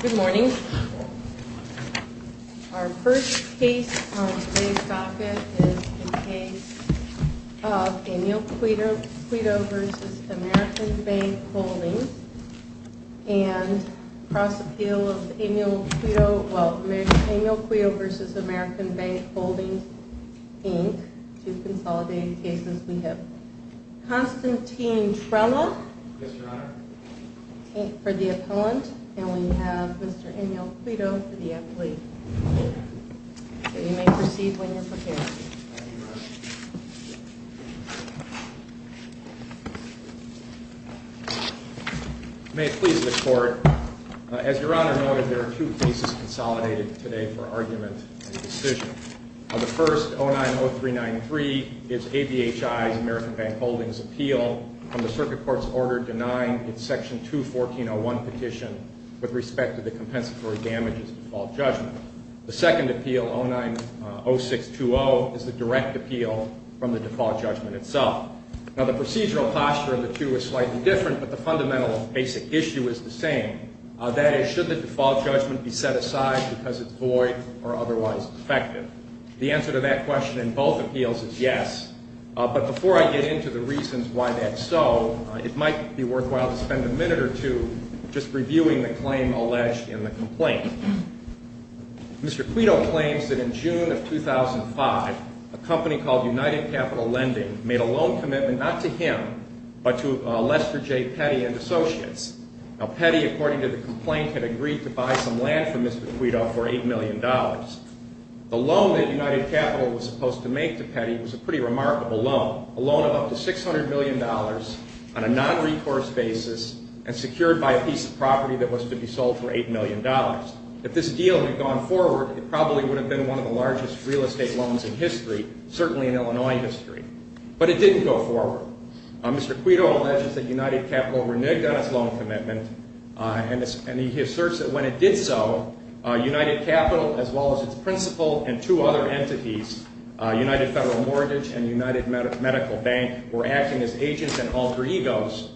Good morning. Our first case on today's docket is the case of Emil Queto v. American Bank Holdings, Inc. and cross-appeal of Emil Queto v. American Bank Holdings, Inc. Two consolidated cases we have. Constantine Trella for the appellant, and we have Mr. Emil Queto for the athlete. You may proceed when you're prepared. May it please the Court. As Your Honor noted, there are two cases consolidated today for argument and decision. The first, 09-0393, is ABHI's American Bank Holdings appeal from the Circuit Court's order denying its Section 214.01 petition with respect to the compensatory damages default judgment. The second appeal, 09-0620, is the direct appeal from the default judgment itself. Now, the procedural posture of the two is slightly different, but the fundamental basic issue is the same. That is, should the default judgment be set aside because it's void or otherwise effective? The answer to that question in both appeals is yes, but before I get into the reasons why that's so, it might be worthwhile to spend a minute or two just reviewing the claim alleged in the complaint. Mr. Queto claims that in June of 2005, a company called United Capital Lending made a loan commitment not to him, but to Lester J. Petty and Associates. Now, Petty, according to the complaint, had agreed to buy some land from Mr. Queto for $8 million. The loan that United Capital was supposed to make to Petty was a pretty remarkable loan, a loan of up to $600 million on a nonrecourse basis and secured by a piece of property that was to be sold for $8 million. If this deal had gone forward, it probably would have been one of the largest real estate loans in history, certainly in Illinois history. But it didn't go forward. Mr. Queto alleges that United Capital reneged on its loan commitment, and he asserts that when it did so, United Capital, as well as its principal and two other entities, United Federal Mortgage and United Medical Bank, were acting as agents and alter egos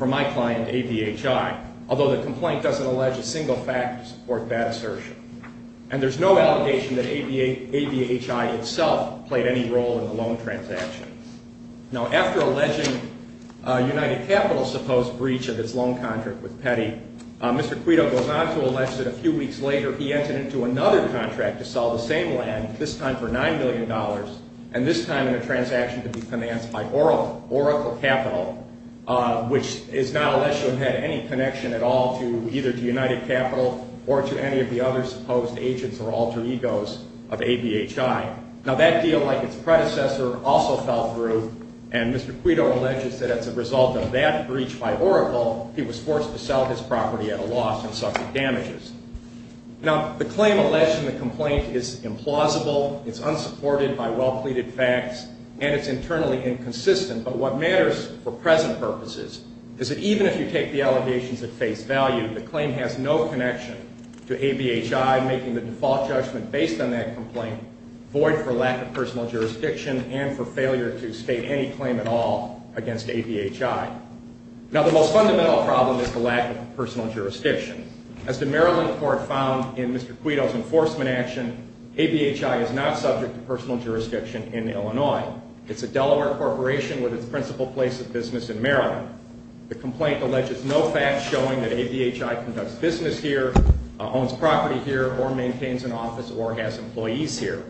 for my client, ABHI, although the complaint doesn't allege a single fact to support that assertion. And there's no allegation that ABHI itself played any role in the loan transaction. Now, after alleging United Capital's supposed breach of its loan contract with Petty, Mr. Queto goes on to allege that a few weeks later he entered into another contract to sell the same land, this time for $9 million, and this time in a transaction to be financed by Oracle Capital, which is not alleged to have had any connection at all to either to United Capital or to any of the other supposed agents or alter egos of ABHI. Now, that deal, like its predecessor, also fell through. And Mr. Queto alleges that as a result of that breach by Oracle, he was forced to sell his property at a loss and suffered damages. Now, the claim alleged in the complaint is implausible. It's unsupported by well-pleaded facts, and it's internally inconsistent. But what matters for present purposes is that even if you take the allegations at face value, the claim has no connection to ABHI, making the default judgment based on that complaint void for lack of personal jurisdiction and for failure to state any claim at all against ABHI. Now, the most fundamental problem is the lack of personal jurisdiction. As the Maryland court found in Mr. Queto's enforcement action, ABHI is not subject to personal jurisdiction in Illinois. It's a Delaware corporation with its principal place of business in Maryland. The complaint alleges no facts showing that ABHI conducts business here, owns property here, or maintains an office or has employees here.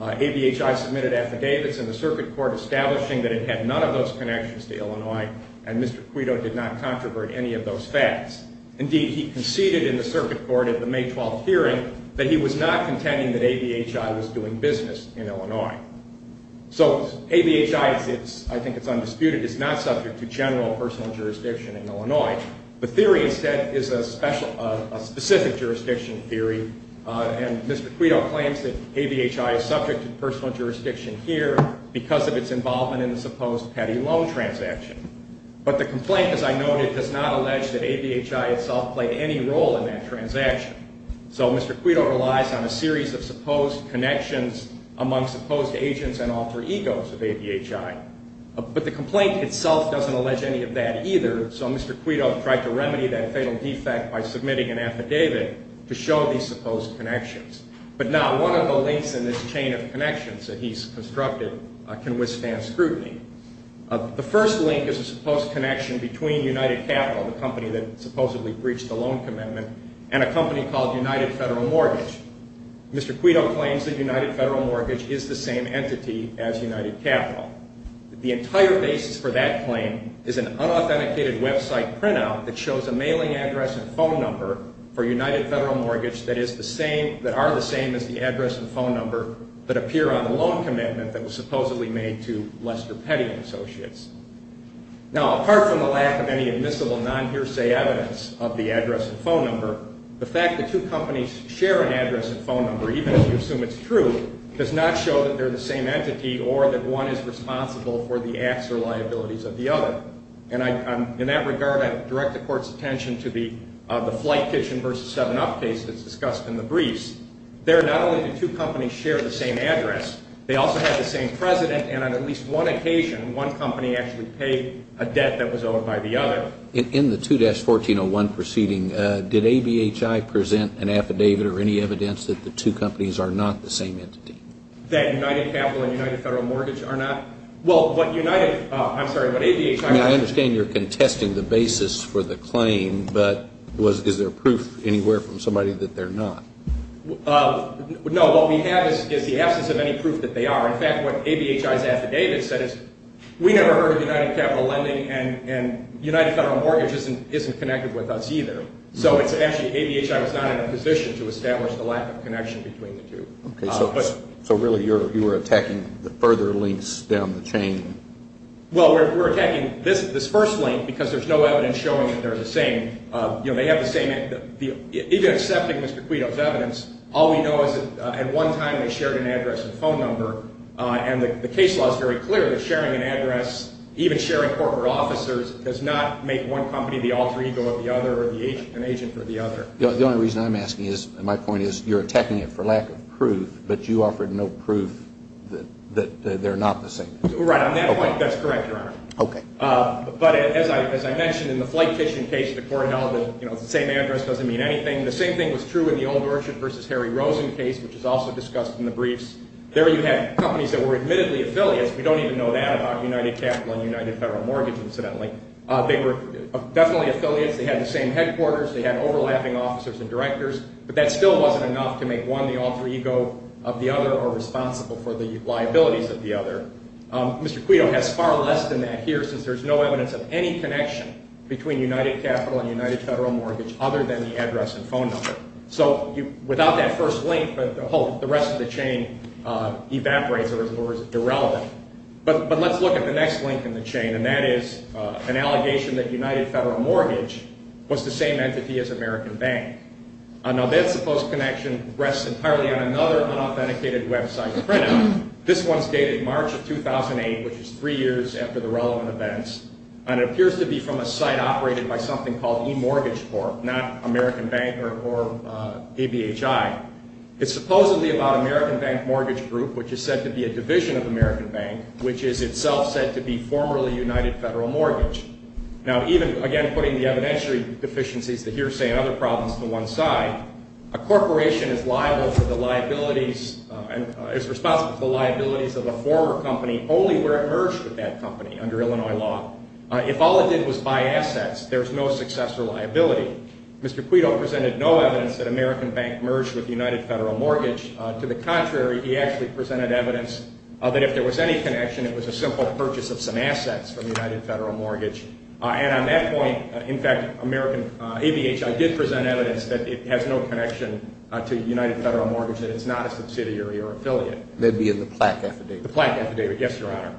ABHI submitted affidavits in the circuit court establishing that it had none of those connections to Illinois, and Mr. Queto did not controvert any of those facts. Indeed, he conceded in the circuit court at the May 12th hearing that he was not contending that ABHI was doing business in Illinois. So ABHI, I think it's undisputed, is not subject to general personal jurisdiction in Illinois. The theory, instead, is a specific jurisdiction theory, and Mr. Queto claims that ABHI is subject to personal jurisdiction here because of its involvement in the supposed petty loan transaction. But the complaint, as I noted, does not allege that ABHI itself played any role in that transaction. So Mr. Queto relies on a series of supposed connections among supposed agents and alter egos of ABHI. But the complaint itself doesn't allege any of that either, so Mr. Queto tried to remedy that fatal defect by submitting an affidavit to show these supposed connections. But not one of the links in this chain of connections that he's constructed can withstand scrutiny. The first link is a supposed connection between United Capital, the company that supposedly breached the loan commitment, and a company called United Federal Mortgage. Mr. Queto claims that United Federal Mortgage is the same entity as United Capital. The entire basis for that claim is an unauthenticated website printout that shows a mailing address and phone number for United Federal Mortgage that are the same as the address and phone number that appear on the loan commitment that was supposedly made to Lester Petty & Associates. Now, apart from the lack of any admissible non-hearsay evidence of the address and phone number, the fact that two companies share an address and phone number, even if you assume it's true, does not show that they're the same entity or that one is responsible for the acts or liabilities of the other. And in that regard, I direct the Court's attention to the Flight Kitchen v. 7Up case that's discussed in the briefs. There, not only do two companies share the same address, they also have the same president, and on at least one occasion, one company actually paid a debt that was owed by the other. In the 2-1401 proceeding, did ABHI present an affidavit or any evidence that the two companies are not the same entity? That United Capital and United Federal Mortgage are not? Well, what United – I'm sorry, what ABHI – I mean, I understand you're contesting the basis for the claim, but is there proof anywhere from somebody that they're not? No, what we have is the absence of any proof that they are. In fact, what ABHI's affidavit said is we never heard of United Capital Lending and United Federal Mortgage isn't connected with us either. So it's actually – ABHI was not in a position to establish the lack of connection between the two. Okay, so really you were attacking the further links down the chain? Well, we're attacking this first link because there's no evidence showing that they're the same. You know, they have the same – even accepting Mr. Quito's evidence, all we know is that at one time they shared an address and phone number, and the case law is very clear that sharing an address, even sharing corporate officers, does not make one company the alter ego of the other or an agent for the other. The only reason I'm asking is – and my point is you're attacking it for lack of proof, but you offered no proof that they're not the same entity. Right, on that point, that's correct, Your Honor. Okay. But as I mentioned, in the Flight Kitchen case the court held that, you know, the same address doesn't mean anything. The same thing was true in the Old Rorschach v. Harry Rosen case, which is also discussed in the briefs. There you had companies that were admittedly affiliates. We don't even know that about United Capital and United Federal Mortgage, incidentally. They were definitely affiliates. They had the same headquarters. They had overlapping officers and directors. But that still wasn't enough to make one the alter ego of the other or responsible for the liabilities of the other. Mr. Quito has far less than that here, since there's no evidence of any connection between United Capital and United Federal Mortgage other than the address and phone number. So without that first link, the rest of the chain evaporates or is irrelevant. But let's look at the next link in the chain, and that is an allegation that United Federal Mortgage was the same entity as American Bank. Now, that supposed connection rests entirely on another unauthenticated website printout. This one is dated March of 2008, which is three years after the relevant events, and it appears to be from a site operated by something called eMortgageCorp, not American Bank or ABHI. It's supposedly about American Bank Mortgage Group, which is said to be a division of American Bank, which is itself said to be formerly United Federal Mortgage. Now, even, again, putting the evidentiary deficiencies, the hearsay, and other problems to one side, a corporation is liable for the liabilities and is responsible for the liabilities of a former company only where it merged with that company under Illinois law. If all it did was buy assets, there's no successor liability. Mr. Quito presented no evidence that American Bank merged with United Federal Mortgage. To the contrary, he actually presented evidence that if there was any connection, it was a simple purchase of some assets from United Federal Mortgage. And on that point, in fact, American ABHI did present evidence that it has no connection to United Federal Mortgage and it's not a subsidiary or affiliate. Maybe in the plaque affidavit. The plaque affidavit, yes, Your Honor.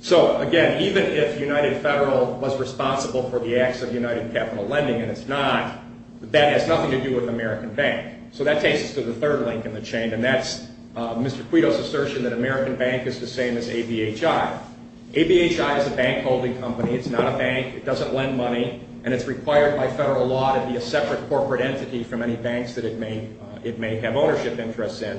So, again, even if United Federal was responsible for the acts of United Capital Lending and it's not, that has nothing to do with American Bank. So that takes us to the third link in the chain, and that's Mr. Quito's assertion that American Bank is the same as ABHI. ABHI is a bank holding company. It's not a bank. It doesn't lend money, and it's required by federal law to be a separate corporate entity from any banks that it may have ownership interests in.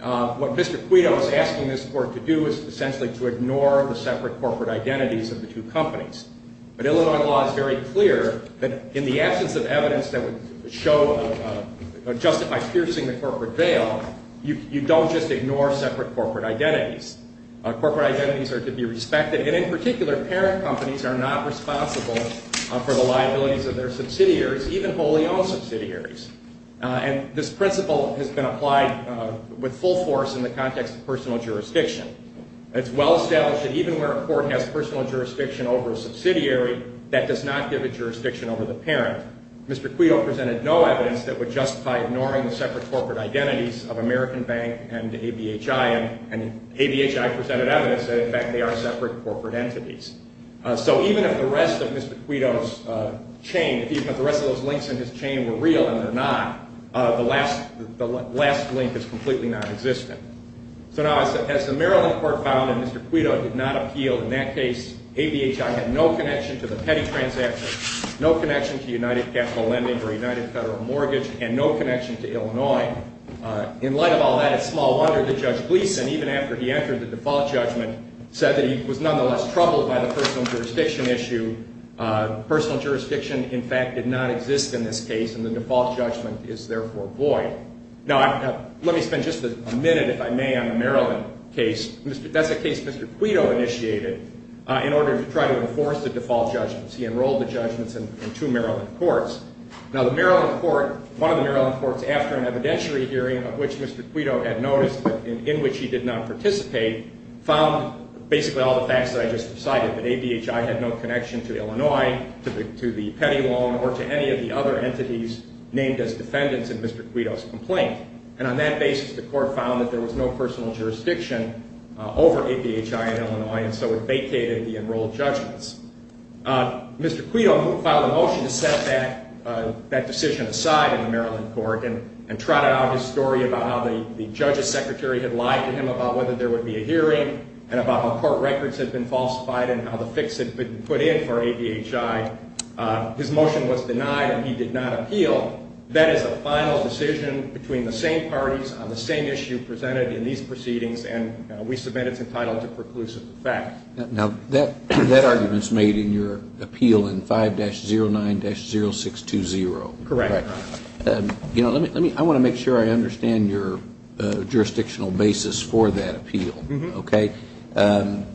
What Mr. Quito is asking this Court to do is essentially to ignore the separate corporate identities of the two companies. But Illinois law is very clear that in the absence of evidence that would justify piercing the corporate veil, you don't just ignore separate corporate identities. Corporate identities are to be respected, and in particular parent companies are not responsible for the liabilities of their subsidiaries, even wholly owned subsidiaries. And this principle has been applied with full force in the context of personal jurisdiction. It's well established that even where a court has personal jurisdiction over a subsidiary, that does not give it jurisdiction over the parent. Mr. Quito presented no evidence that would justify ignoring the separate corporate identities of American Bank and ABHI, and ABHI presented evidence that, in fact, they are separate corporate entities. So even if the rest of Mr. Quito's chain, even if the rest of those links in his chain were real and they're not, the last link is completely nonexistent. So now, as the Maryland Court found, and Mr. Quito did not appeal in that case, ABHI had no connection to the petty transactions, no connection to United Capital Lending or United Federal Mortgage, and no connection to Illinois. In light of all that, it's small wonder that Judge Gleeson, even after he entered the default judgment, said that he was nonetheless troubled by the personal jurisdiction issue. Personal jurisdiction, in fact, did not exist in this case, and the default judgment is therefore void. Now, let me spend just a minute, if I may, on the Maryland case. That's a case Mr. Quito initiated in order to try to enforce the default judgments. He enrolled the judgments in two Maryland courts. Now, the Maryland court, one of the Maryland courts, after an evidentiary hearing of which Mr. Quito had noticed and in which he did not participate, found basically all the facts that I just cited, that ABHI had no connection to Illinois, to the petty loan, or to any of the other entities named as defendants in Mr. Quito's complaint. And on that basis, the court found that there was no personal jurisdiction over ABHI in Illinois, and so it vacated the enrolled judgments. Mr. Quito filed a motion to set that decision aside in the Maryland court and trotted out his story about how the judge's secretary had lied to him about whether there would be a hearing and about how court records had been falsified and how the fix had been put in for ABHI. His motion was denied and he did not appeal. That is the final decision between the same parties on the same issue presented in these proceedings, and we submit it's entitled to preclusive effect. Now, that argument's made in your appeal in 5-09-0620. Correct. I want to make sure I understand your jurisdictional basis for that appeal. Okay? There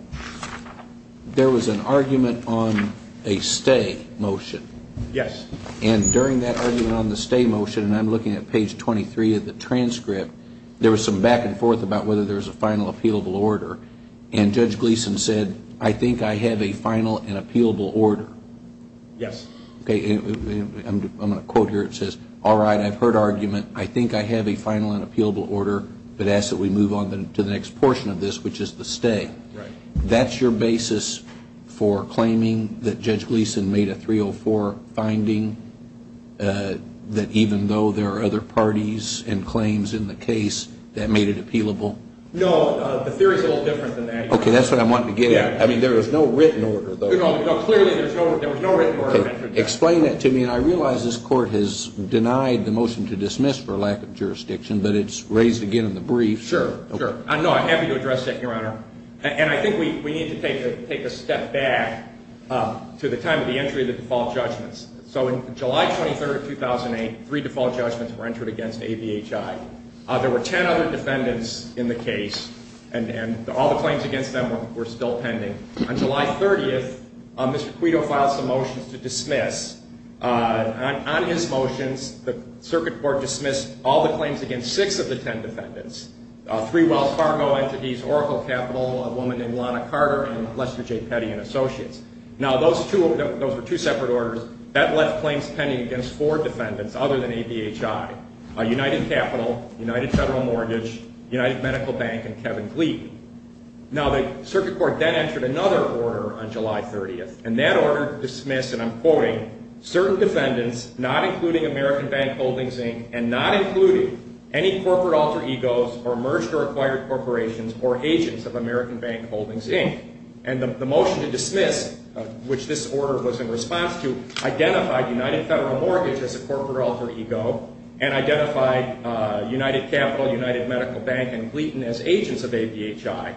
was an argument on a stay motion. Yes. And during that argument on the stay motion, and I'm looking at page 23 of the transcript, there was some back and forth about whether there was a final appealable order, and Judge Gleeson said, I think I have a final and appealable order. Yes. Okay, I'm going to quote here. It says, all right, I've heard argument. I think I have a final and appealable order, but ask that we move on to the next portion of this, which is the stay. That's your basis for claiming that Judge Gleeson made a 304 finding, that even though there are other parties and claims in the case, that made it appealable? No, the theory is a little different than that. Okay, that's what I'm wanting to get at. I mean, there was no written order, though. No, clearly there was no written order. Okay, explain that to me, and I realize this Court has denied the motion to dismiss for lack of jurisdiction, but it's raised again in the brief. Sure, sure. No, I have to address that, Your Honor, and I think we need to take a step back to the time of the entry of the default judgments. So in July 23, 2008, three default judgments were entered against ABHI. There were ten other defendants in the case, and all the claims against them were still pending. On July 30th, Mr. Quito filed some motions to dismiss. On his motions, the Circuit Court dismissed all the claims against six of the ten defendants, three Wells Fargo entities, Oracle Capital, a woman named Lana Carter, and Lester J. Petty & Associates. Now, those were two separate orders. That left claims pending against four defendants other than ABHI, United Capital, United Federal Mortgage, United Medical Bank, and Kevin Glee. Now, the Circuit Court then entered another order on July 30th, and that order dismissed, and I'm quoting, certain defendants not including American Bank Holdings, Inc., and not including any corporate alter egos or merged or acquired corporations or agents of American Bank Holdings, Inc. And the motion to dismiss, which this order was in response to, identified United Federal Mortgage as a corporate alter ego and identified United Capital, United Medical Bank, and Gleaton as agents of ABHI.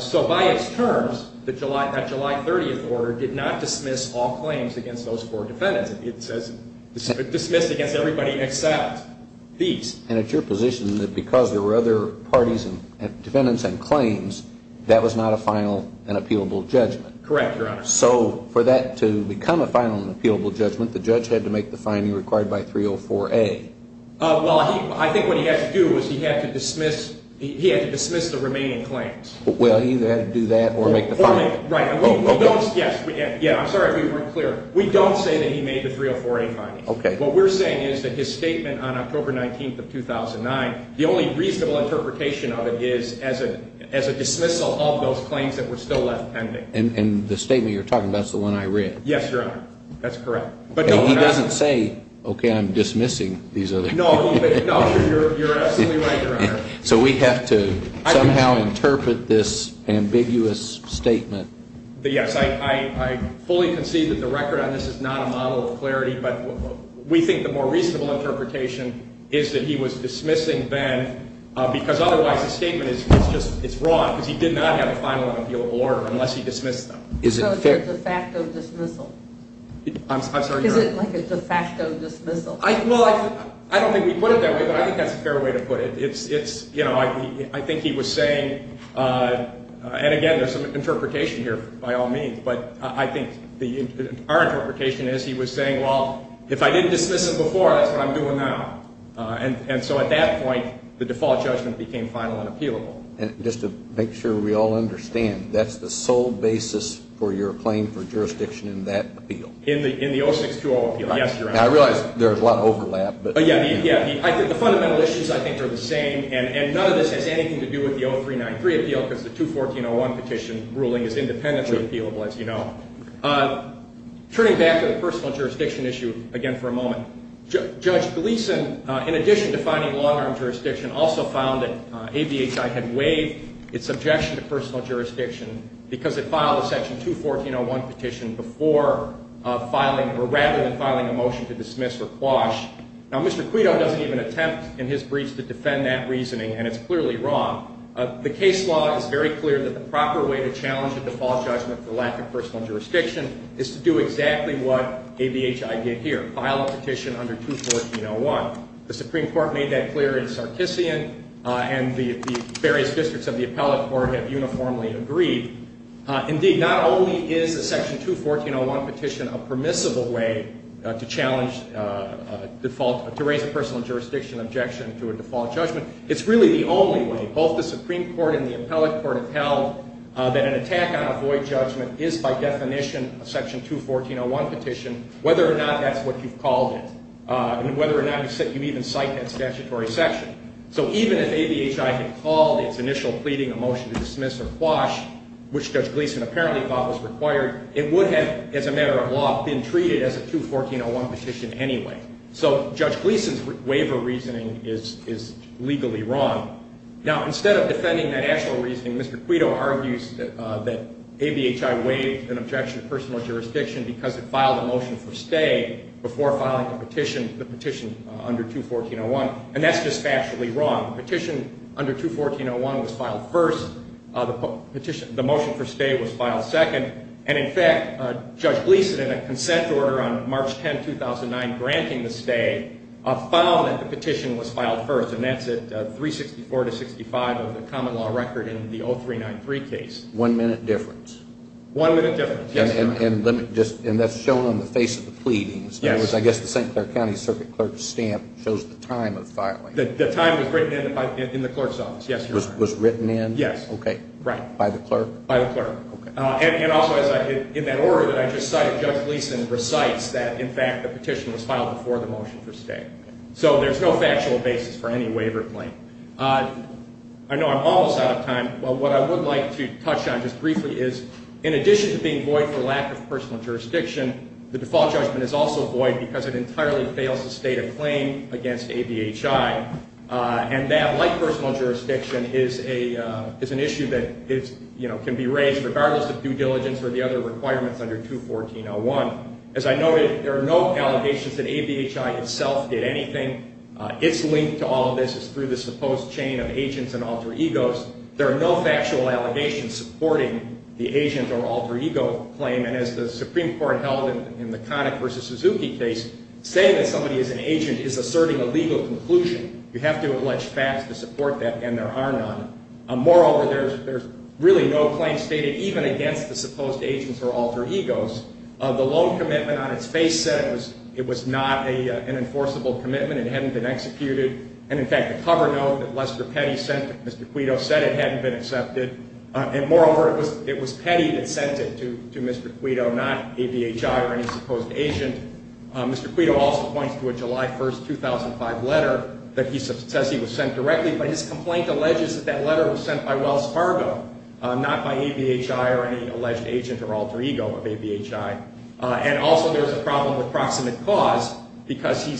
So by its terms, that July 30th order did not dismiss all claims against those four defendants. It says dismissed against everybody except these. And it's your position that because there were other parties and defendants and claims, that was not a final and appealable judgment? Correct, Your Honor. So for that to become a final and appealable judgment, the judge had to make the finding required by 304A? Well, I think what he had to do was he had to dismiss the remaining claims. Well, he either had to do that or make the finding. Right. I'm sorry if we weren't clear. We don't say that he made the 304A findings. Okay. What we're saying is that his statement on October 19th of 2009, the only reasonable interpretation of it is as a dismissal of those claims that were still left pending. And the statement you're talking about is the one I read? Yes, Your Honor. That's correct. He doesn't say, okay, I'm dismissing these other claims. You're absolutely right, Your Honor. So we have to somehow interpret this ambiguous statement. Yes. I fully concede that the record on this is not a model of clarity, but we think the more reasonable interpretation is that he was dismissing them because otherwise the statement is just wrong because he did not have a final and appealable order unless he dismissed them. So it's a de facto dismissal? I'm sorry, Your Honor. Is it like a de facto dismissal? Well, I don't think we put it that way, but I think that's a fair way to put it. It's, you know, I think he was saying, and again, there's some interpretation here by all means, but I think our interpretation is he was saying, well, if I didn't dismiss them before, that's what I'm doing now. And so at that point, the default judgment became final and appealable. Just to make sure we all understand, that's the sole basis for your claim for jurisdiction in that appeal? In the 0620 appeal, yes, Your Honor. Now, I realize there's a lot of overlap. Yeah, the fundamental issues I think are the same, and none of this has anything to do with the 0393 appeal because the 214.01 petition ruling is independently appealable, as you know. Judge Gleeson, in addition to finding long-arm jurisdiction, also found that ABHI had waived its objection to personal jurisdiction because it filed a section 214.01 petition rather than filing a motion to dismiss or quash. Now, Mr. Quito doesn't even attempt in his breach to defend that reasoning, and it's clearly wrong. The case law is very clear that the proper way to challenge a default judgment for lack of personal jurisdiction is to do exactly what ABHI did here. They filed a petition under 214.01. The Supreme Court made that clear in Sarkissian, and the various districts of the appellate court have uniformly agreed. Indeed, not only is a section 214.01 petition a permissible way to challenge default to raise a personal jurisdiction objection to a default judgment, it's really the only way. Both the Supreme Court and the appellate court have held that an attack on a void judgment is, by definition, a section 214.01 petition, whether or not that's what you've called it, and whether or not you even cite that statutory section. So even if ABHI had called its initial pleading a motion to dismiss or quash, which Judge Gleeson apparently thought was required, it would have, as a matter of law, been treated as a 214.01 petition anyway. So Judge Gleeson's waiver reasoning is legally wrong. Now, instead of defending that actual reasoning, Mr. Quito argues that ABHI waived an objection to personal jurisdiction because it filed a motion for stay before filing the petition under 214.01, and that's dispassionately wrong. The petition under 214.01 was filed first. The motion for stay was filed second. And, in fact, Judge Gleeson, in a consent order on March 10, 2009, granting the stay, filed that the petition was filed first, and that's at 364 to 65 of the common law record in the 0393 case. One minute difference. One minute difference, yes, Your Honor. And that's shown on the face of the pleadings. Yes. In other words, I guess the St. Clair County Circuit Clerk's stamp shows the time of filing. The time was written in the clerk's office, yes, Your Honor. Was written in? Yes. Okay. Right. By the clerk? By the clerk. Okay. And also, in that order that I just cited, Judge Gleeson recites that, in fact, the petition was filed before the motion for stay. So there's no factual basis for any waiver claim. I know I'm almost out of time, but what I would like to touch on just briefly is, in addition to being void for lack of personal jurisdiction, the default judgment is also void because it entirely fails to state a claim against ABHI, and that, like personal jurisdiction, is an issue that can be raised regardless of due diligence or the other requirements under 214-01. As I noted, there are no allegations that ABHI itself did anything. Its link to all of this is through the supposed chain of agents and alter egos. There are no factual allegations supporting the agent or alter ego claim, and as the Supreme Court held in the Connick v. Suzuki case, saying that somebody is an agent is asserting a legal conclusion. You have to have alleged facts to support that, and there are none. Moreover, there's really no claim stated even against the supposed agents or alter egos. The loan commitment on its face said it was not an enforceable commitment. It hadn't been executed. And, in fact, the cover note that Lester Petty sent to Mr. Quito said it hadn't been accepted. And, moreover, it was Petty that sent it to Mr. Quito, not ABHI or any supposed agent. Mr. Quito also points to a July 1, 2005 letter that he says he was sent directly, but his complaint alleges that that letter was sent by Wells Fargo, not by ABHI or any alleged agent or alter ego of ABHI. And also there's a problem with proximate cause because he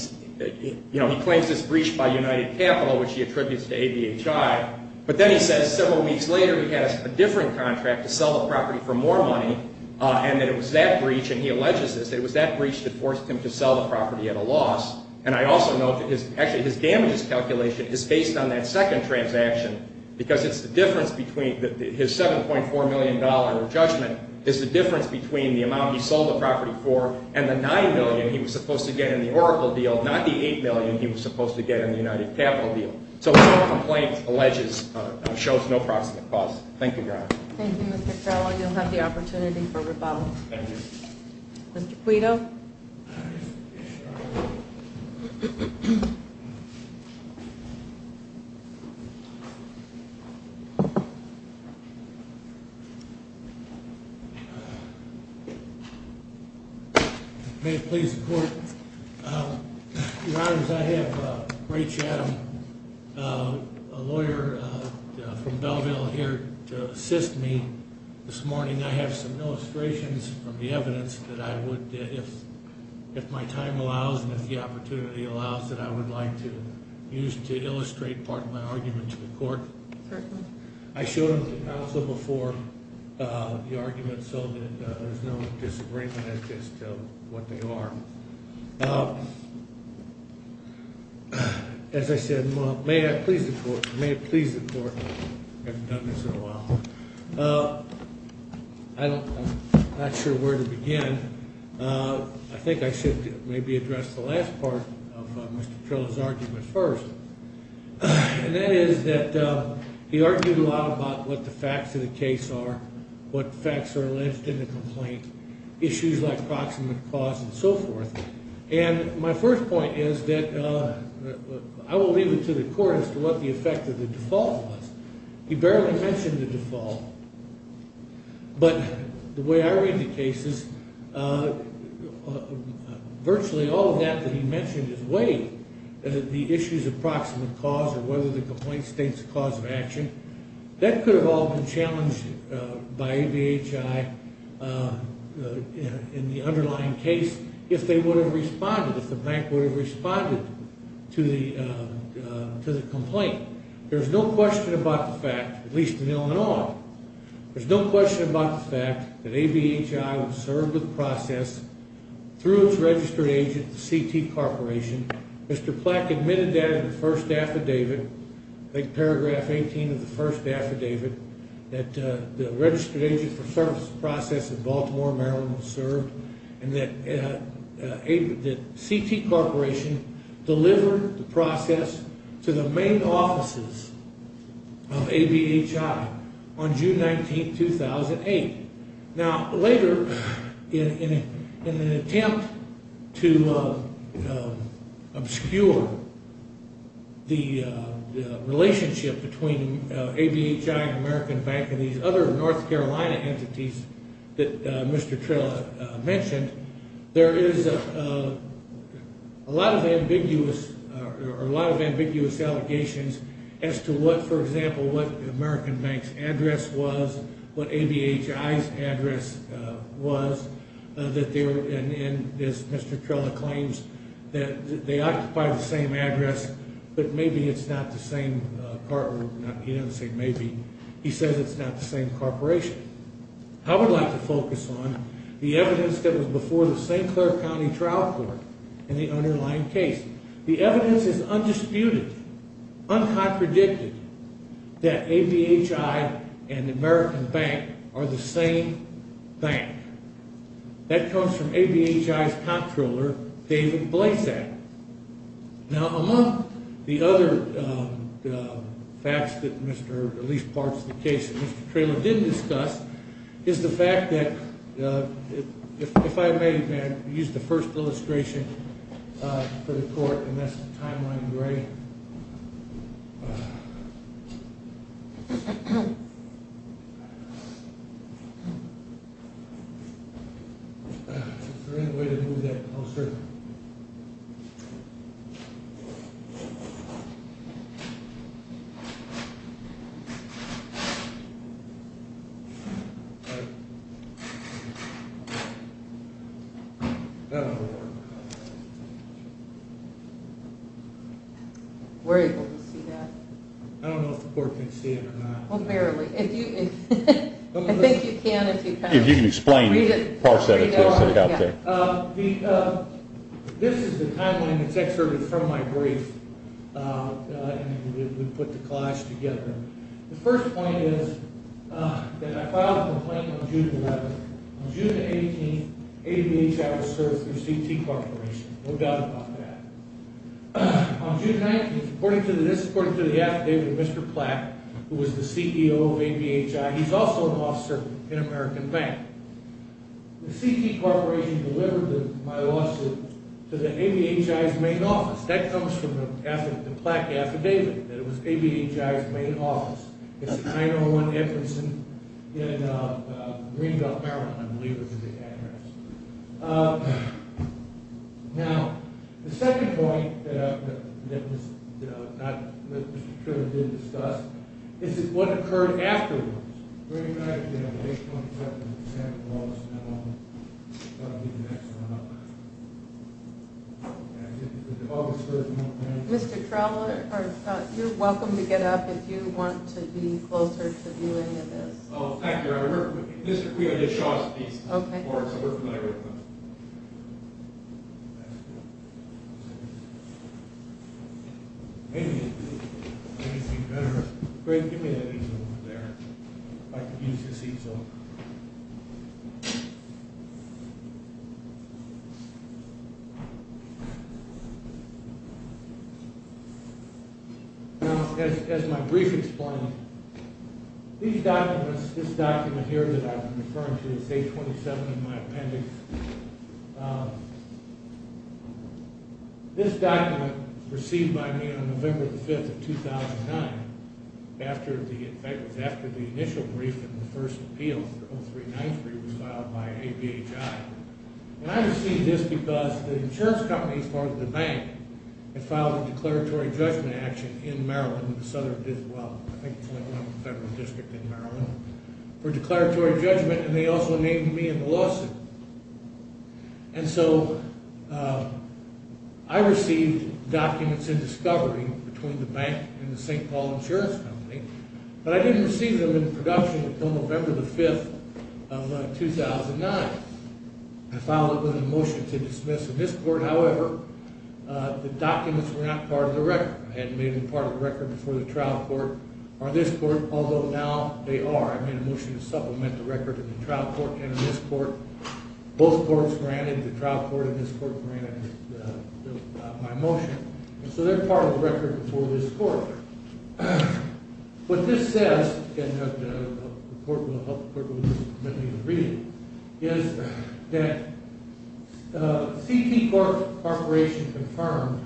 claims it's breached by United Capital, which he attributes to ABHI. But then he says several weeks later he had a different contract to sell the property for more money, and that it was that breach, and he alleges this, that it was that breach that forced him to sell the property at a loss. And I also note that actually his damages calculation is based on that second transaction because it's the difference between his $7.4 million in judgment is the difference between the amount he sold the property for and the $9 million he was supposed to get in the Oracle deal, not the $8 million he was supposed to get in the United Capital deal. So no complaint alleges, shows no proximate cause. Thank you, Your Honor. Thank you, Mr. Carroll. You'll have the opportunity for rebuttal. Thank you. Mr. Quito. May it please the Court. Your Honors, I have Ray Chatham, a lawyer from Belleville, here to assist me this morning. I have some illustrations from the evidence that I would, if my time allows and if the opportunity allows, that I would like to use to illustrate part of my argument to the Court. Certainly. I showed them to counsel before the argument so that there's no disagreement as to what they are. As I said, may it please the Court. May it please the Court. I haven't done this in a while. I'm not sure where to begin. I think I should maybe address the last part of Mr. Trilla's argument first. And that is that he argued a lot about what the facts of the case are, what facts are alleged in the complaint, issues like proximate cause and so forth. And my first point is that I will leave it to the Court as to what the effect of the default was. He barely mentioned the default. But the way I read the cases, virtually all of that that he mentioned is weight. The issues of proximate cause or whether the complaint states the cause of action, that could have all been challenged by ADHI in the underlying case if they would have responded, if the bank would have responded to the complaint. There's no question about the fact, at least in Illinois, there's no question about the fact that ADHI would serve the process through its registered agent, CT Corporation. Mr. Platt admitted that in the first affidavit, I think paragraph 18 of the first affidavit, that the registered agent for service process in Baltimore, Maryland, would serve and that CT Corporation delivered the process to the main offices of ADHI on June 19, 2008. Now, later, in an attempt to obscure the relationship between ADHI and American Bank and these other North Carolina entities that Mr. Trella mentioned, there is a lot of ambiguous allegations as to what, for example, what American Bank's address was, what ADHI's address was, and as Mr. Trella claims, that they occupy the same address, but maybe it's not the same, he doesn't say maybe, he says it's not the same corporation. I would like to focus on the evidence that was before the St. Clair County Trial Court in the underlying case. The evidence is undisputed, uncontradicted, that ADHI and American Bank are the same bank. That comes from ADHI's comptroller, David Blasak. Now, among the other facts that Mr., at least parts of the case that Mr. Trella didn't discuss, is the fact that, if I may, may I use the first illustration for the court, and that's the timeline, you ready? All right. Is there any way to move that closer? We're able to see that. I don't know if the court can see it or not. Well, barely. I think you can if you kind of read it. If you can explain it, parse it out there. This is the timeline that's excerpted from my brief, and we put the clash together. The first point is that I filed a complaint on June 11th. On June 18th, ADHI was served through CT Corporation, no doubt about that. On June 19th, according to this, according to the affidavit of Mr. Platt, who was the CEO of ADHI, he's also an officer in American Bank. The CT Corporation delivered my lawsuit to the ADHI's main office. That comes from the Platt affidavit, that it was ADHI's main office. It's at 901 Edmondson in Greenbelt, Maryland, I believe is the address. Now, the second point that Mr. Trella did discuss is what occurred afterwards. Mr. Trella, you're welcome to get up if you want to be closer to viewing this. Oh, thank you. Mr. Trella, just show us these. Okay. That's good. Great, give me that easel over there. I could use this easel. Now, as my brief explained, these documents, this document here that I'm referring to, it's page 27 in my appendix. This document was received by me on November 5th of 2009, in fact, it was after the initial brief in the first appeal, 30393, was filed by ADHI. And I received this because the insurance companies, part of the bank, had filed a declaratory judgment action in Maryland. The Southern did as well. I think it's the number one federal district in Maryland for declaratory judgment. And they also named me in the lawsuit. And so I received documents in discovery between the bank and the St. Paul Insurance Company, but I didn't receive them in production until November 5th of 2009. I filed them in a motion to dismiss in this court. However, the documents were not part of the record. I hadn't made them part of the record before the trial court or this court, although now they are. I made a motion to supplement the record in the trial court and in this court. Both courts granted. The trial court and this court granted my motion. And so they're part of the record before this court. What this says, and the court will help the court to read it, is that CT Corporation confirmed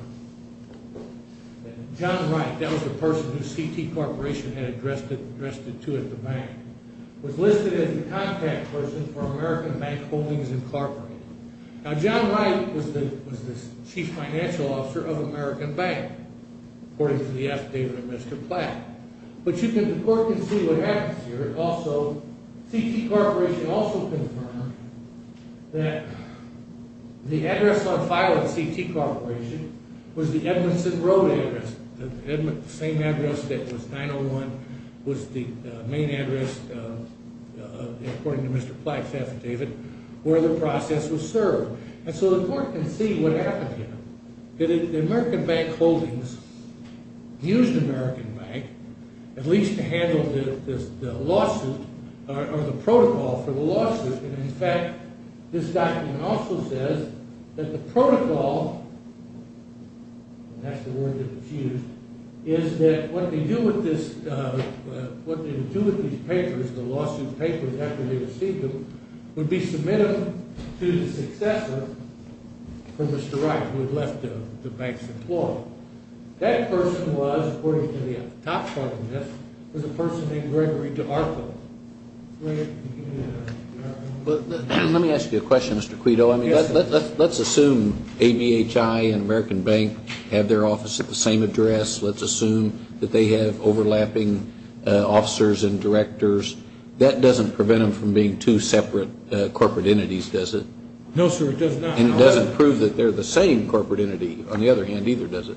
that John Wright, that was the person who CT Corporation had addressed it to at the bank, was listed as the contact person for American Bank Holdings Incorporated. Now, John Wright was the chief financial officer of American Bank, according to the affidavit of Mr. Platt. But you can work and see what happens here. Also, CT Corporation also confirmed that the address on file at CT Corporation was the Edmondson Road address, the same address that was 901, was the main address, according to Mr. Platt's affidavit, where the process was served. And so the court can see what happened here. The American Bank Holdings used American Bank, at least to handle the lawsuit or the protocol for the lawsuit. And, in fact, this document also says that the protocol, and that's the word that was used, is that what they do with these papers, the lawsuit papers, after they receive them, would be submitted to the successor, for Mr. Wright, who had left the bank's employment. That person was, according to the top part of this, was a person named Gregory DeArthur. Let me ask you a question, Mr. Quito. Let's assume ABHI and American Bank have their office at the same address. Let's assume that they have overlapping officers and directors. That doesn't prevent them from being two separate corporate entities, does it? No, sir, it does not. And it doesn't prove that they're the same corporate entity, on the other hand, either, does it?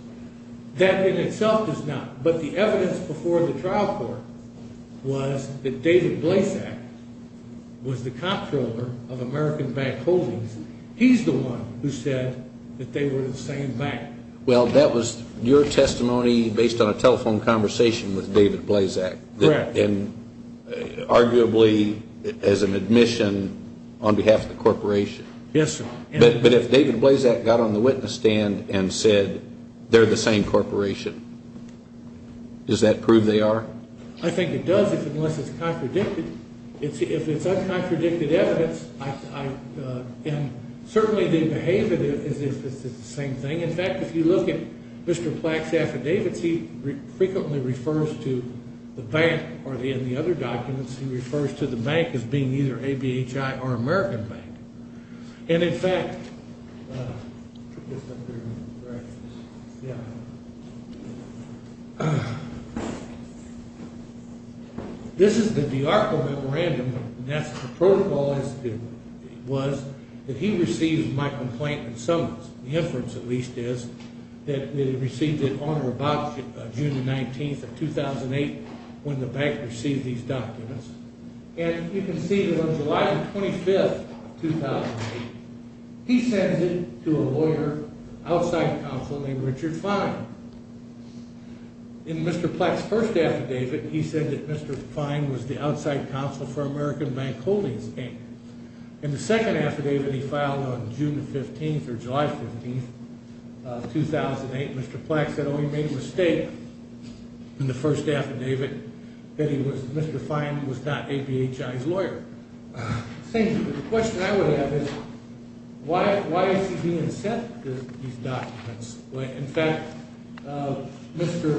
That in itself does not. But the evidence before the trial court was that David Blazak was the comptroller of American Bank Holdings. He's the one who said that they were the same bank. Well, that was your testimony based on a telephone conversation with David Blazak. Correct. And arguably as an admission on behalf of the corporation. Yes, sir. But if David Blazak got on the witness stand and said they're the same corporation, does that prove they are? I think it does, unless it's contradicted. If it's uncontradicted evidence, and certainly they behave as if it's the same thing. In fact, if you look at Mr. Plax's affidavits, he frequently refers to the bank, or in the other documents he refers to the bank as being either ABHI or American Bank. And, in fact, this is the D'Arco Memorandum, and that's what the protocol is. It was that he received my complaint in summons. The inference, at least, is that he received it on or about June 19, 2008, when the bank received these documents. And you can see that on July 25, 2008, he sends it to a lawyer outside counsel named Richard Fine. In Mr. Plax's first affidavit, he said that Mr. Fine was the outside counsel for American Bank Holdings Bank. In the second affidavit he filed on June 15 or July 15, 2008, Mr. Plax said, in the first affidavit, that Mr. Fine was not ABHI's lawyer. The question I would have is, why is he being sent these documents? In fact, Mr.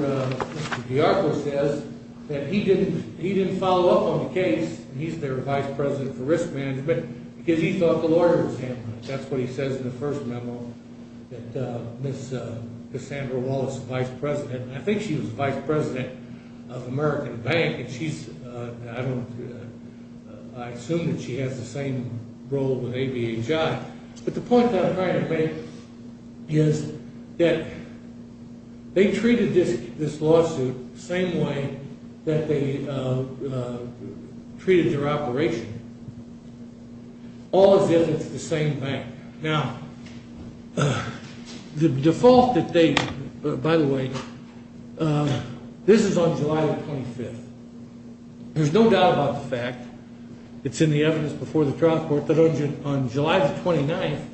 D'Arco says that he didn't follow up on the case, and he's their vice president for risk management, because he thought the lawyers handled it. That's what he says in the first memo, that Ms. Cassandra Wallace, the vice president, and I think she was the vice president of American Bank, and I assume that she has the same role with ABHI. But the point that I'm trying to make is that they treated this lawsuit the same way that they treated their operation, all as if it's the same bank. Now, the default that they, by the way, this is on July 25th. There's no doubt about the fact, it's in the evidence before the trial court, that on July 29th,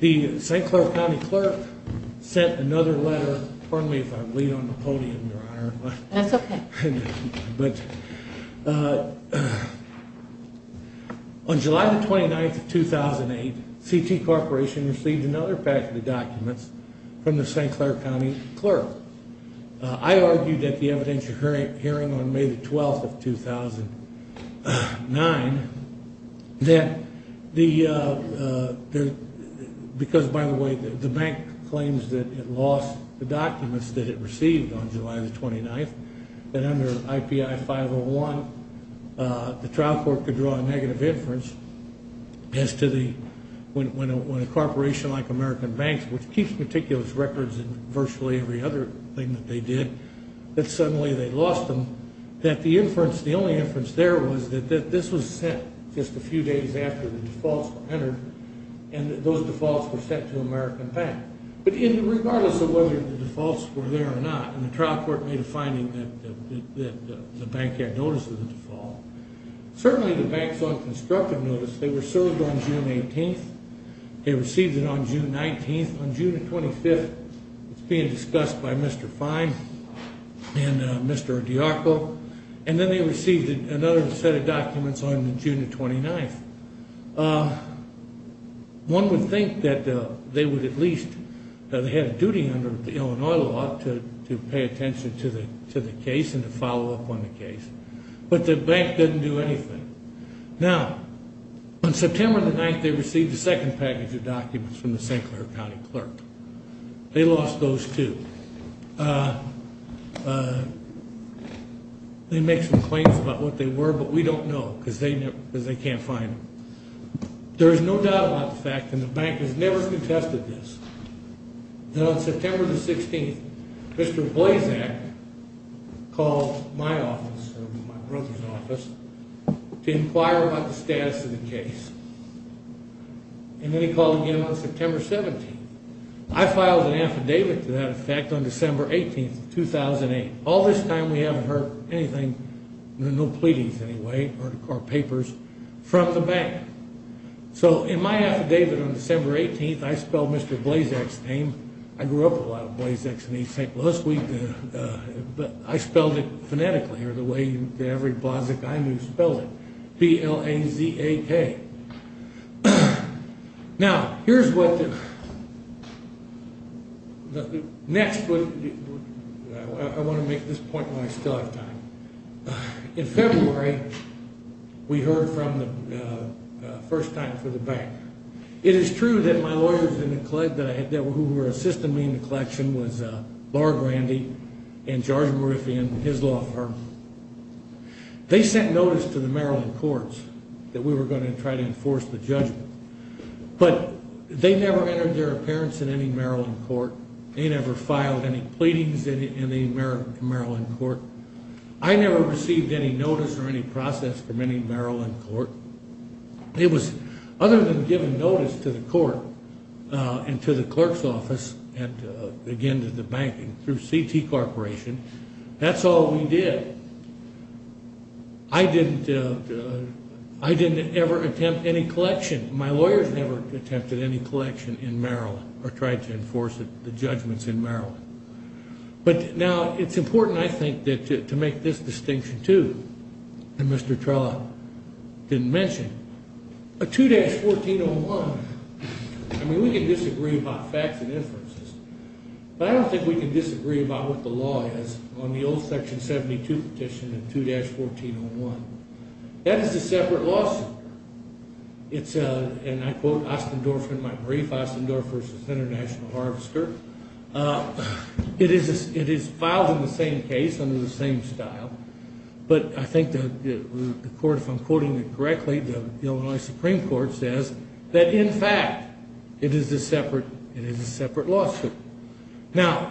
the St. Clair County clerk sent another letter, pardon me if I bleed on the podium, Your Honor. That's okay. But on July 29th of 2008, CT Corporation received another pack of the documents from the St. Clair County clerk. I argued at the evidentiary hearing on May 12th of 2009 that the, because by the way, the bank claims that it lost the documents that it received on July 29th, that under IPI 501 the trial court could draw a negative inference as to the, when a corporation like American Bank, which keeps meticulous records in virtually every other thing that they did, that suddenly they lost them, that the inference, the only inference there was that this was sent just a few days after the defaults were entered and that those defaults were sent to American Bank. But regardless of whether the defaults were there or not, and the trial court made a finding that the bank had notice of the default, certainly the banks on constructive notice, they were served on June 18th. They received it on June 19th. On June 25th, it's being discussed by Mr. Fine and Mr. DiArco. And then they received another set of documents on June 29th. One would think that they would at least, that they had a duty under the Illinois law to pay attention to the case and to follow up on the case. But the bank didn't do anything. Now, on September 9th, they received a second package of documents from the St. Clair County clerk. They lost those, too. They make some claims about what they were, but we don't know because they can't find them. There is no doubt about the fact, and the bank has never contested this, that on September 16th, Mr. Blazak called my office, my brother's office, to inquire about the status of the case. And then he called again on September 17th. I filed an affidavit to that effect on December 18th, 2008. All this time, we haven't heard anything, no pleadings anyway, or papers from the bank. So in my affidavit on December 18th, I spelled Mr. Blazak's name. I grew up with a lot of Blazaks, and he said, I spelled it phonetically, or the way every Blazak I knew spelled it, B-L-A-Z-A-K. Now, here's what the next would be. I want to make this point while I still have time. In February, we heard from the first time for the bank. It is true that my lawyers who were assisting me in the collection was Laura Grandy and George Moriffian, his law firm. They sent notice to the Maryland courts that we were going to try to enforce the judgment, but they never entered their appearance in any Maryland court. They never filed any pleadings in the Maryland court. I never received any notice or any process from any Maryland court. Other than giving notice to the court and to the clerk's office and, again, to the banking through CT Corporation, that's all we did. I didn't ever attempt any collection. My lawyers never attempted any collection in Maryland or tried to enforce the judgments in Maryland. But, now, it's important, I think, to make this distinction, too, that Mr. Trella didn't mention. A 2-1401, I mean, we can disagree about facts and inferences, but I don't think we can disagree about what the law is on the old Section 72 petition and 2-1401. That is a separate lawsuit. It's a, and I quote Ostendorf in my brief, Ostendorf versus International Harvester. It is filed in the same case under the same style, but I think the court, if I'm quoting it correctly, the Illinois Supreme Court says that, in fact, it is a separate lawsuit. Now,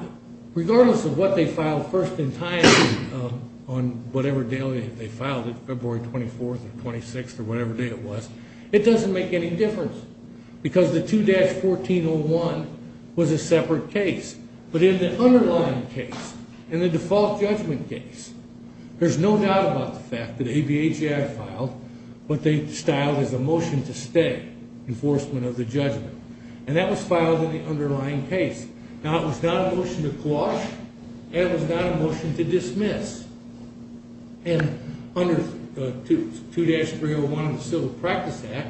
regardless of what they filed first in time on whatever day they filed it, February 24th or 26th or whatever day it was, it doesn't make any difference because the 2-1401 was a separate case. But in the underlying case, in the default judgment case, there's no doubt about the fact that ABHA filed what they styled as a motion to stay, enforcement of the judgment. And that was filed in the underlying case. Now, it was not a motion to quash and it was not a motion to dismiss. And under 2-301 of the Civil Practice Act,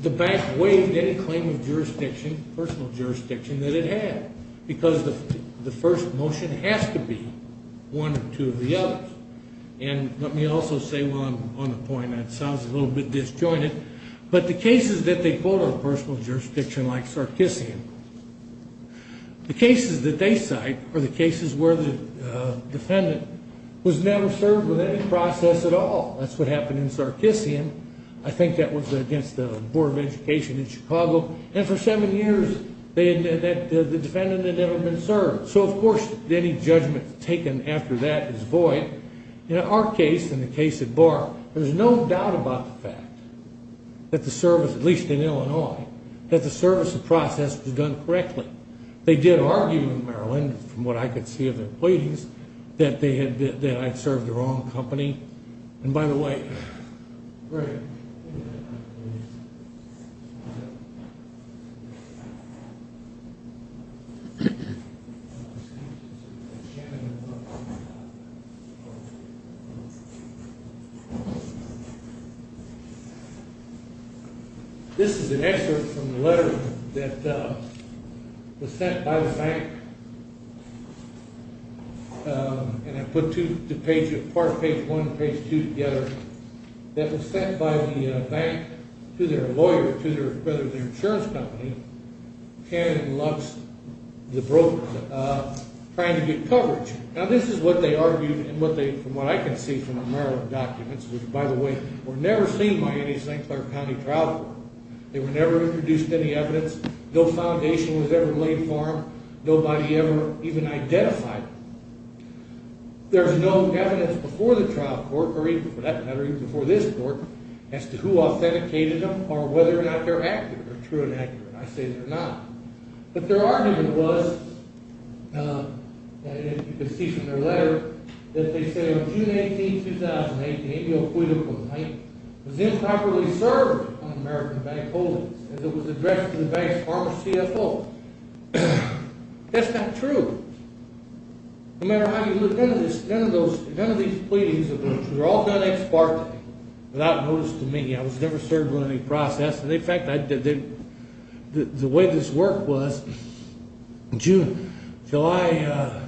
the bank waived any claim of jurisdiction, personal jurisdiction, that it had because the first motion has to be one or two of the others. And let me also say while I'm on the point, that sounds a little bit disjointed, but the cases that they quote are personal jurisdiction like Sarkissian. The cases that they cite are the cases where the defendant was never served with any process at all. That's what happened in Sarkissian. I think that was against the Board of Education in Chicago. And for seven years, the defendant had never been served. So, of course, any judgment taken after that is void. In our case, in the case of Barr, there's no doubt about the fact that the service, at least in Illinois, that the service and process was done correctly. They did argue in Maryland, from what I could see of their pleadings, that I served the wrong company. And by the way, this is an excerpt from the letter that was sent by the bank. And I put part of page one and page two together. That was sent by the bank to their insurance company, Cannon & Lux, the broker, trying to get coverage. Now, this is what they argued, from what I can see from the Maryland documents, which, by the way, were never seen by any St. Clair County trial court. They were never introduced to any evidence. No foundation was ever laid for them. Nobody ever even identified them. There's no evidence before the trial court, or even, for that matter, even before this court, as to who authenticated them or whether or not they're accurate or true and accurate. I say they're not. But their argument was, as you can see from their letter, that they say, on June 18, 2008, the amnioacoital complaint was improperly served on American bank holdings, as it was addressed to the bank's pharma CFO. That's not true. No matter how you look at it, none of these pleadings were all done ex parte, without notice to me. I was never served on any process. In fact, the way this worked was, in June, July,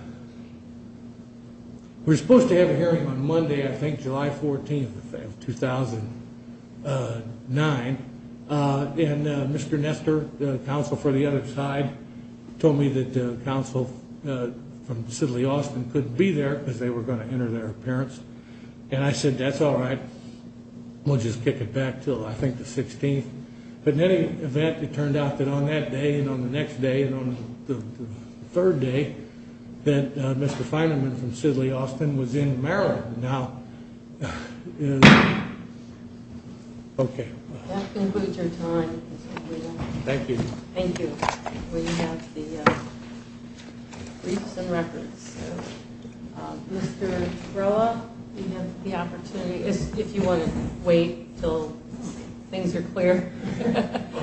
we were supposed to have a hearing on Monday, I think July 14, 2009, and Mr. Nestor, the counsel for the other side, told me that counsel from Sidley Austin couldn't be there because they were going to enter their appearance. And I said, that's all right. We'll just kick it back until, I think, the 16th. But in any event, it turned out that on that day and on the next day and on the third day that Mr. Feinemann from Sidley Austin was in Maryland now. Okay. That concludes our time. Thank you. Thank you. We have the briefs and records. Mr. Trella, you have the opportunity, if you want to wait until things are clear. Thank you.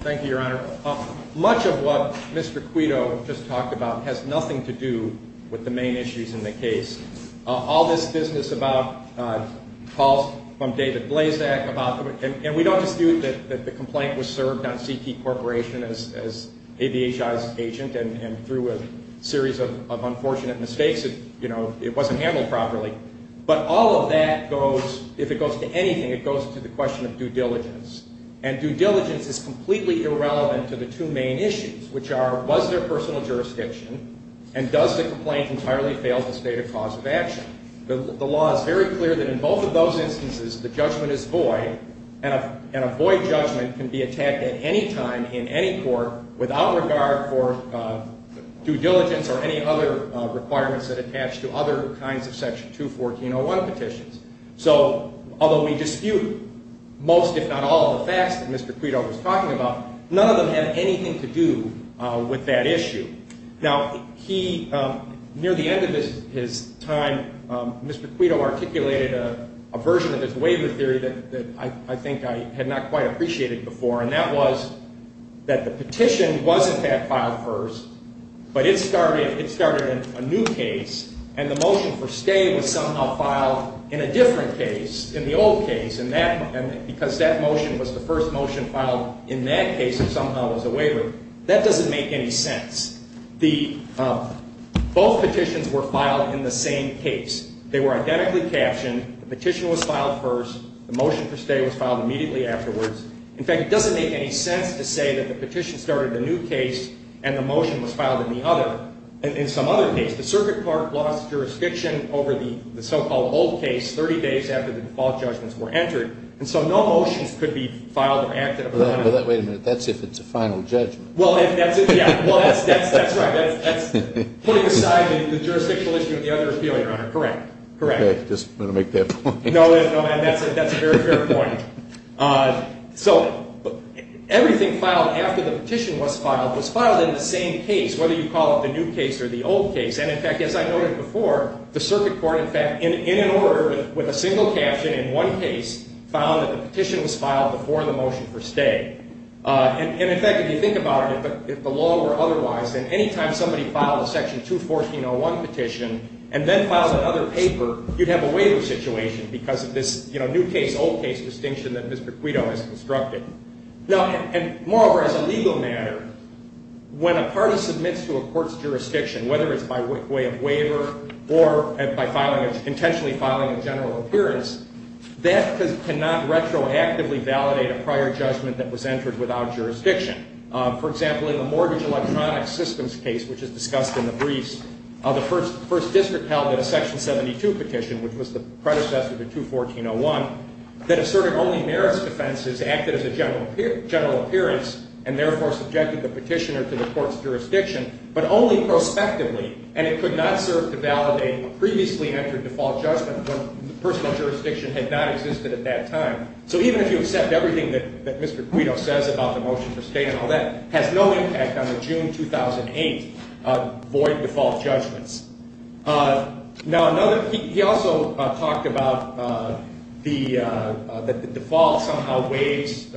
Thank you, Your Honor. Much of what Mr. Quito just talked about has nothing to do with the main issues in the case. All this business about calls from David Blazak, and we don't dispute that the complaint was served on CT Corporation as ABHI's agent, and through a series of unfortunate mistakes, it wasn't handled properly. But all of that goes, if it goes to anything, it goes to the question of due diligence. And due diligence is completely irrelevant to the two main issues, which are, was there personal jurisdiction, and does the complaint entirely fail to state a cause of action? The law is very clear that in both of those instances, the judgment is void, and a void judgment can be attacked at any time in any court without regard for due diligence or any other requirements that attach to other kinds of Section 214.01 petitions. So although we dispute most, if not all, of the facts that Mr. Quito was talking about, none of them have anything to do with that issue. Now, he, near the end of his time, Mr. Quito articulated a version of his waiver theory that I think I had not quite appreciated before, and that was that the petition wasn't that filed first, but it started a new case, and the motion for stay was somehow filed in a different case, in the old case, and because that motion was the first motion filed in that case, it somehow was a waiver. That doesn't make any sense. Both petitions were filed in the same case. They were identically captioned. The petition was filed first. The motion for stay was filed immediately afterwards. In fact, it doesn't make any sense to say that the petition started a new case and the motion was filed in the other, in some other case. The circuit court lost jurisdiction over the so-called old case 30 days after the default judgments were entered, and so no motions could be filed or acted upon. But wait a minute. That's if it's a final judgment. Well, if that's it, yeah. That's putting aside the jurisdictional issue of the other appeal, Your Honor. Correct, correct. Okay, just going to make that point. No, and that's a very fair point. So everything filed after the petition was filed was filed in the same case, whether you call it the new case or the old case. And, in fact, as I noted before, the circuit court, in fact, in an order with a single caption in one case, found that the petition was filed before the motion for stay. And, in fact, if you think about it, if the law were otherwise, then any time somebody filed a Section 214.01 petition and then filed another paper, you'd have a waiver situation because of this new case, old case distinction that Mr. Quito has constructed. Now, and moreover, as a legal matter, when a party submits to a court's jurisdiction, whether it's by way of waiver or by intentionally filing a general appearance, that cannot retroactively validate a prior judgment that was entered without jurisdiction. For example, in the mortgage electronic systems case, which is discussed in the briefs, the First District held that a Section 72 petition, which was the predecessor to 214.01, that asserted only merits defenses acted as a general appearance and therefore subjected the petitioner to the court's jurisdiction, but only prospectively, and it could not serve to validate a previously entered default judgment when personal jurisdiction had not existed at that time. So even if you accept everything that Mr. Quito says about the motion for state and all that, it has no impact on the June 2008 void default judgments. Now, he also talked about the default somehow waives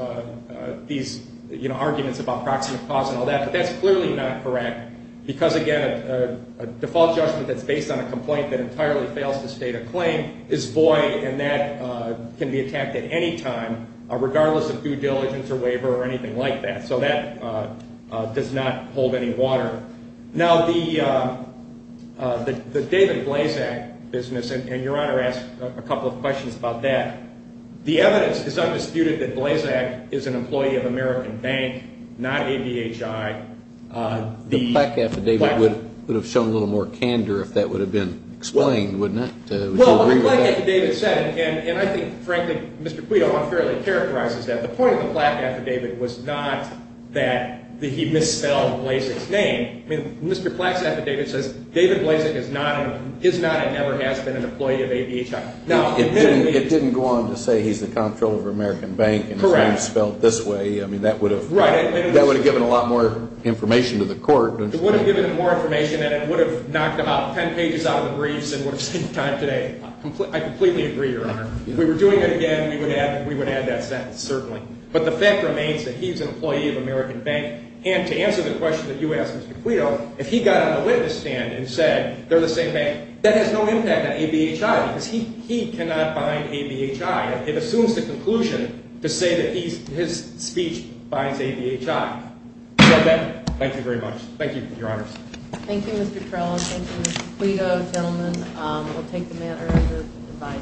these arguments about proximate cause and all that, but that's clearly not correct because, again, a default judgment that's based on a complaint that entirely fails to state a claim is void, and that can be attacked at any time, regardless of due diligence or waiver or anything like that. So that does not hold any water. Now, the David Blazak business, and Your Honor asked a couple of questions about that. The evidence is undisputed that Blazak is an employee of American Bank, not ABHI. The plaque affidavit would have shown a little more candor if that would have been explained, wouldn't it? Well, I like what David said, and I think, frankly, Mr. Quito unfairly characterizes that. The point of the plaque affidavit was not that he misspelled Blazak's name. I mean, Mr. Plaque's affidavit says David Blazak is not and never has been an employee of ABHI. It didn't go on to say he's the comptroller of American Bank and his name is spelled this way. I mean, that would have given a lot more information to the court, don't you think? It would have given him more information, and it would have knocked about 10 pages out of the briefs and would have saved time today. I completely agree, Your Honor. If we were doing it again, we would add that sentence, certainly. But the fact remains that he's an employee of American Bank, and to answer the question that you asked, Mr. Quito, if he got on the witness stand and said they're the same bank, that has no impact on ABHI because he cannot bind ABHI. It assumes the conclusion to say that his speech binds ABHI. With that, thank you very much. Thank you, Your Honors. Thank you, Mr. Torello. Thank you, Mr. Quito, gentlemen. We'll take the matter as is. Goodbye.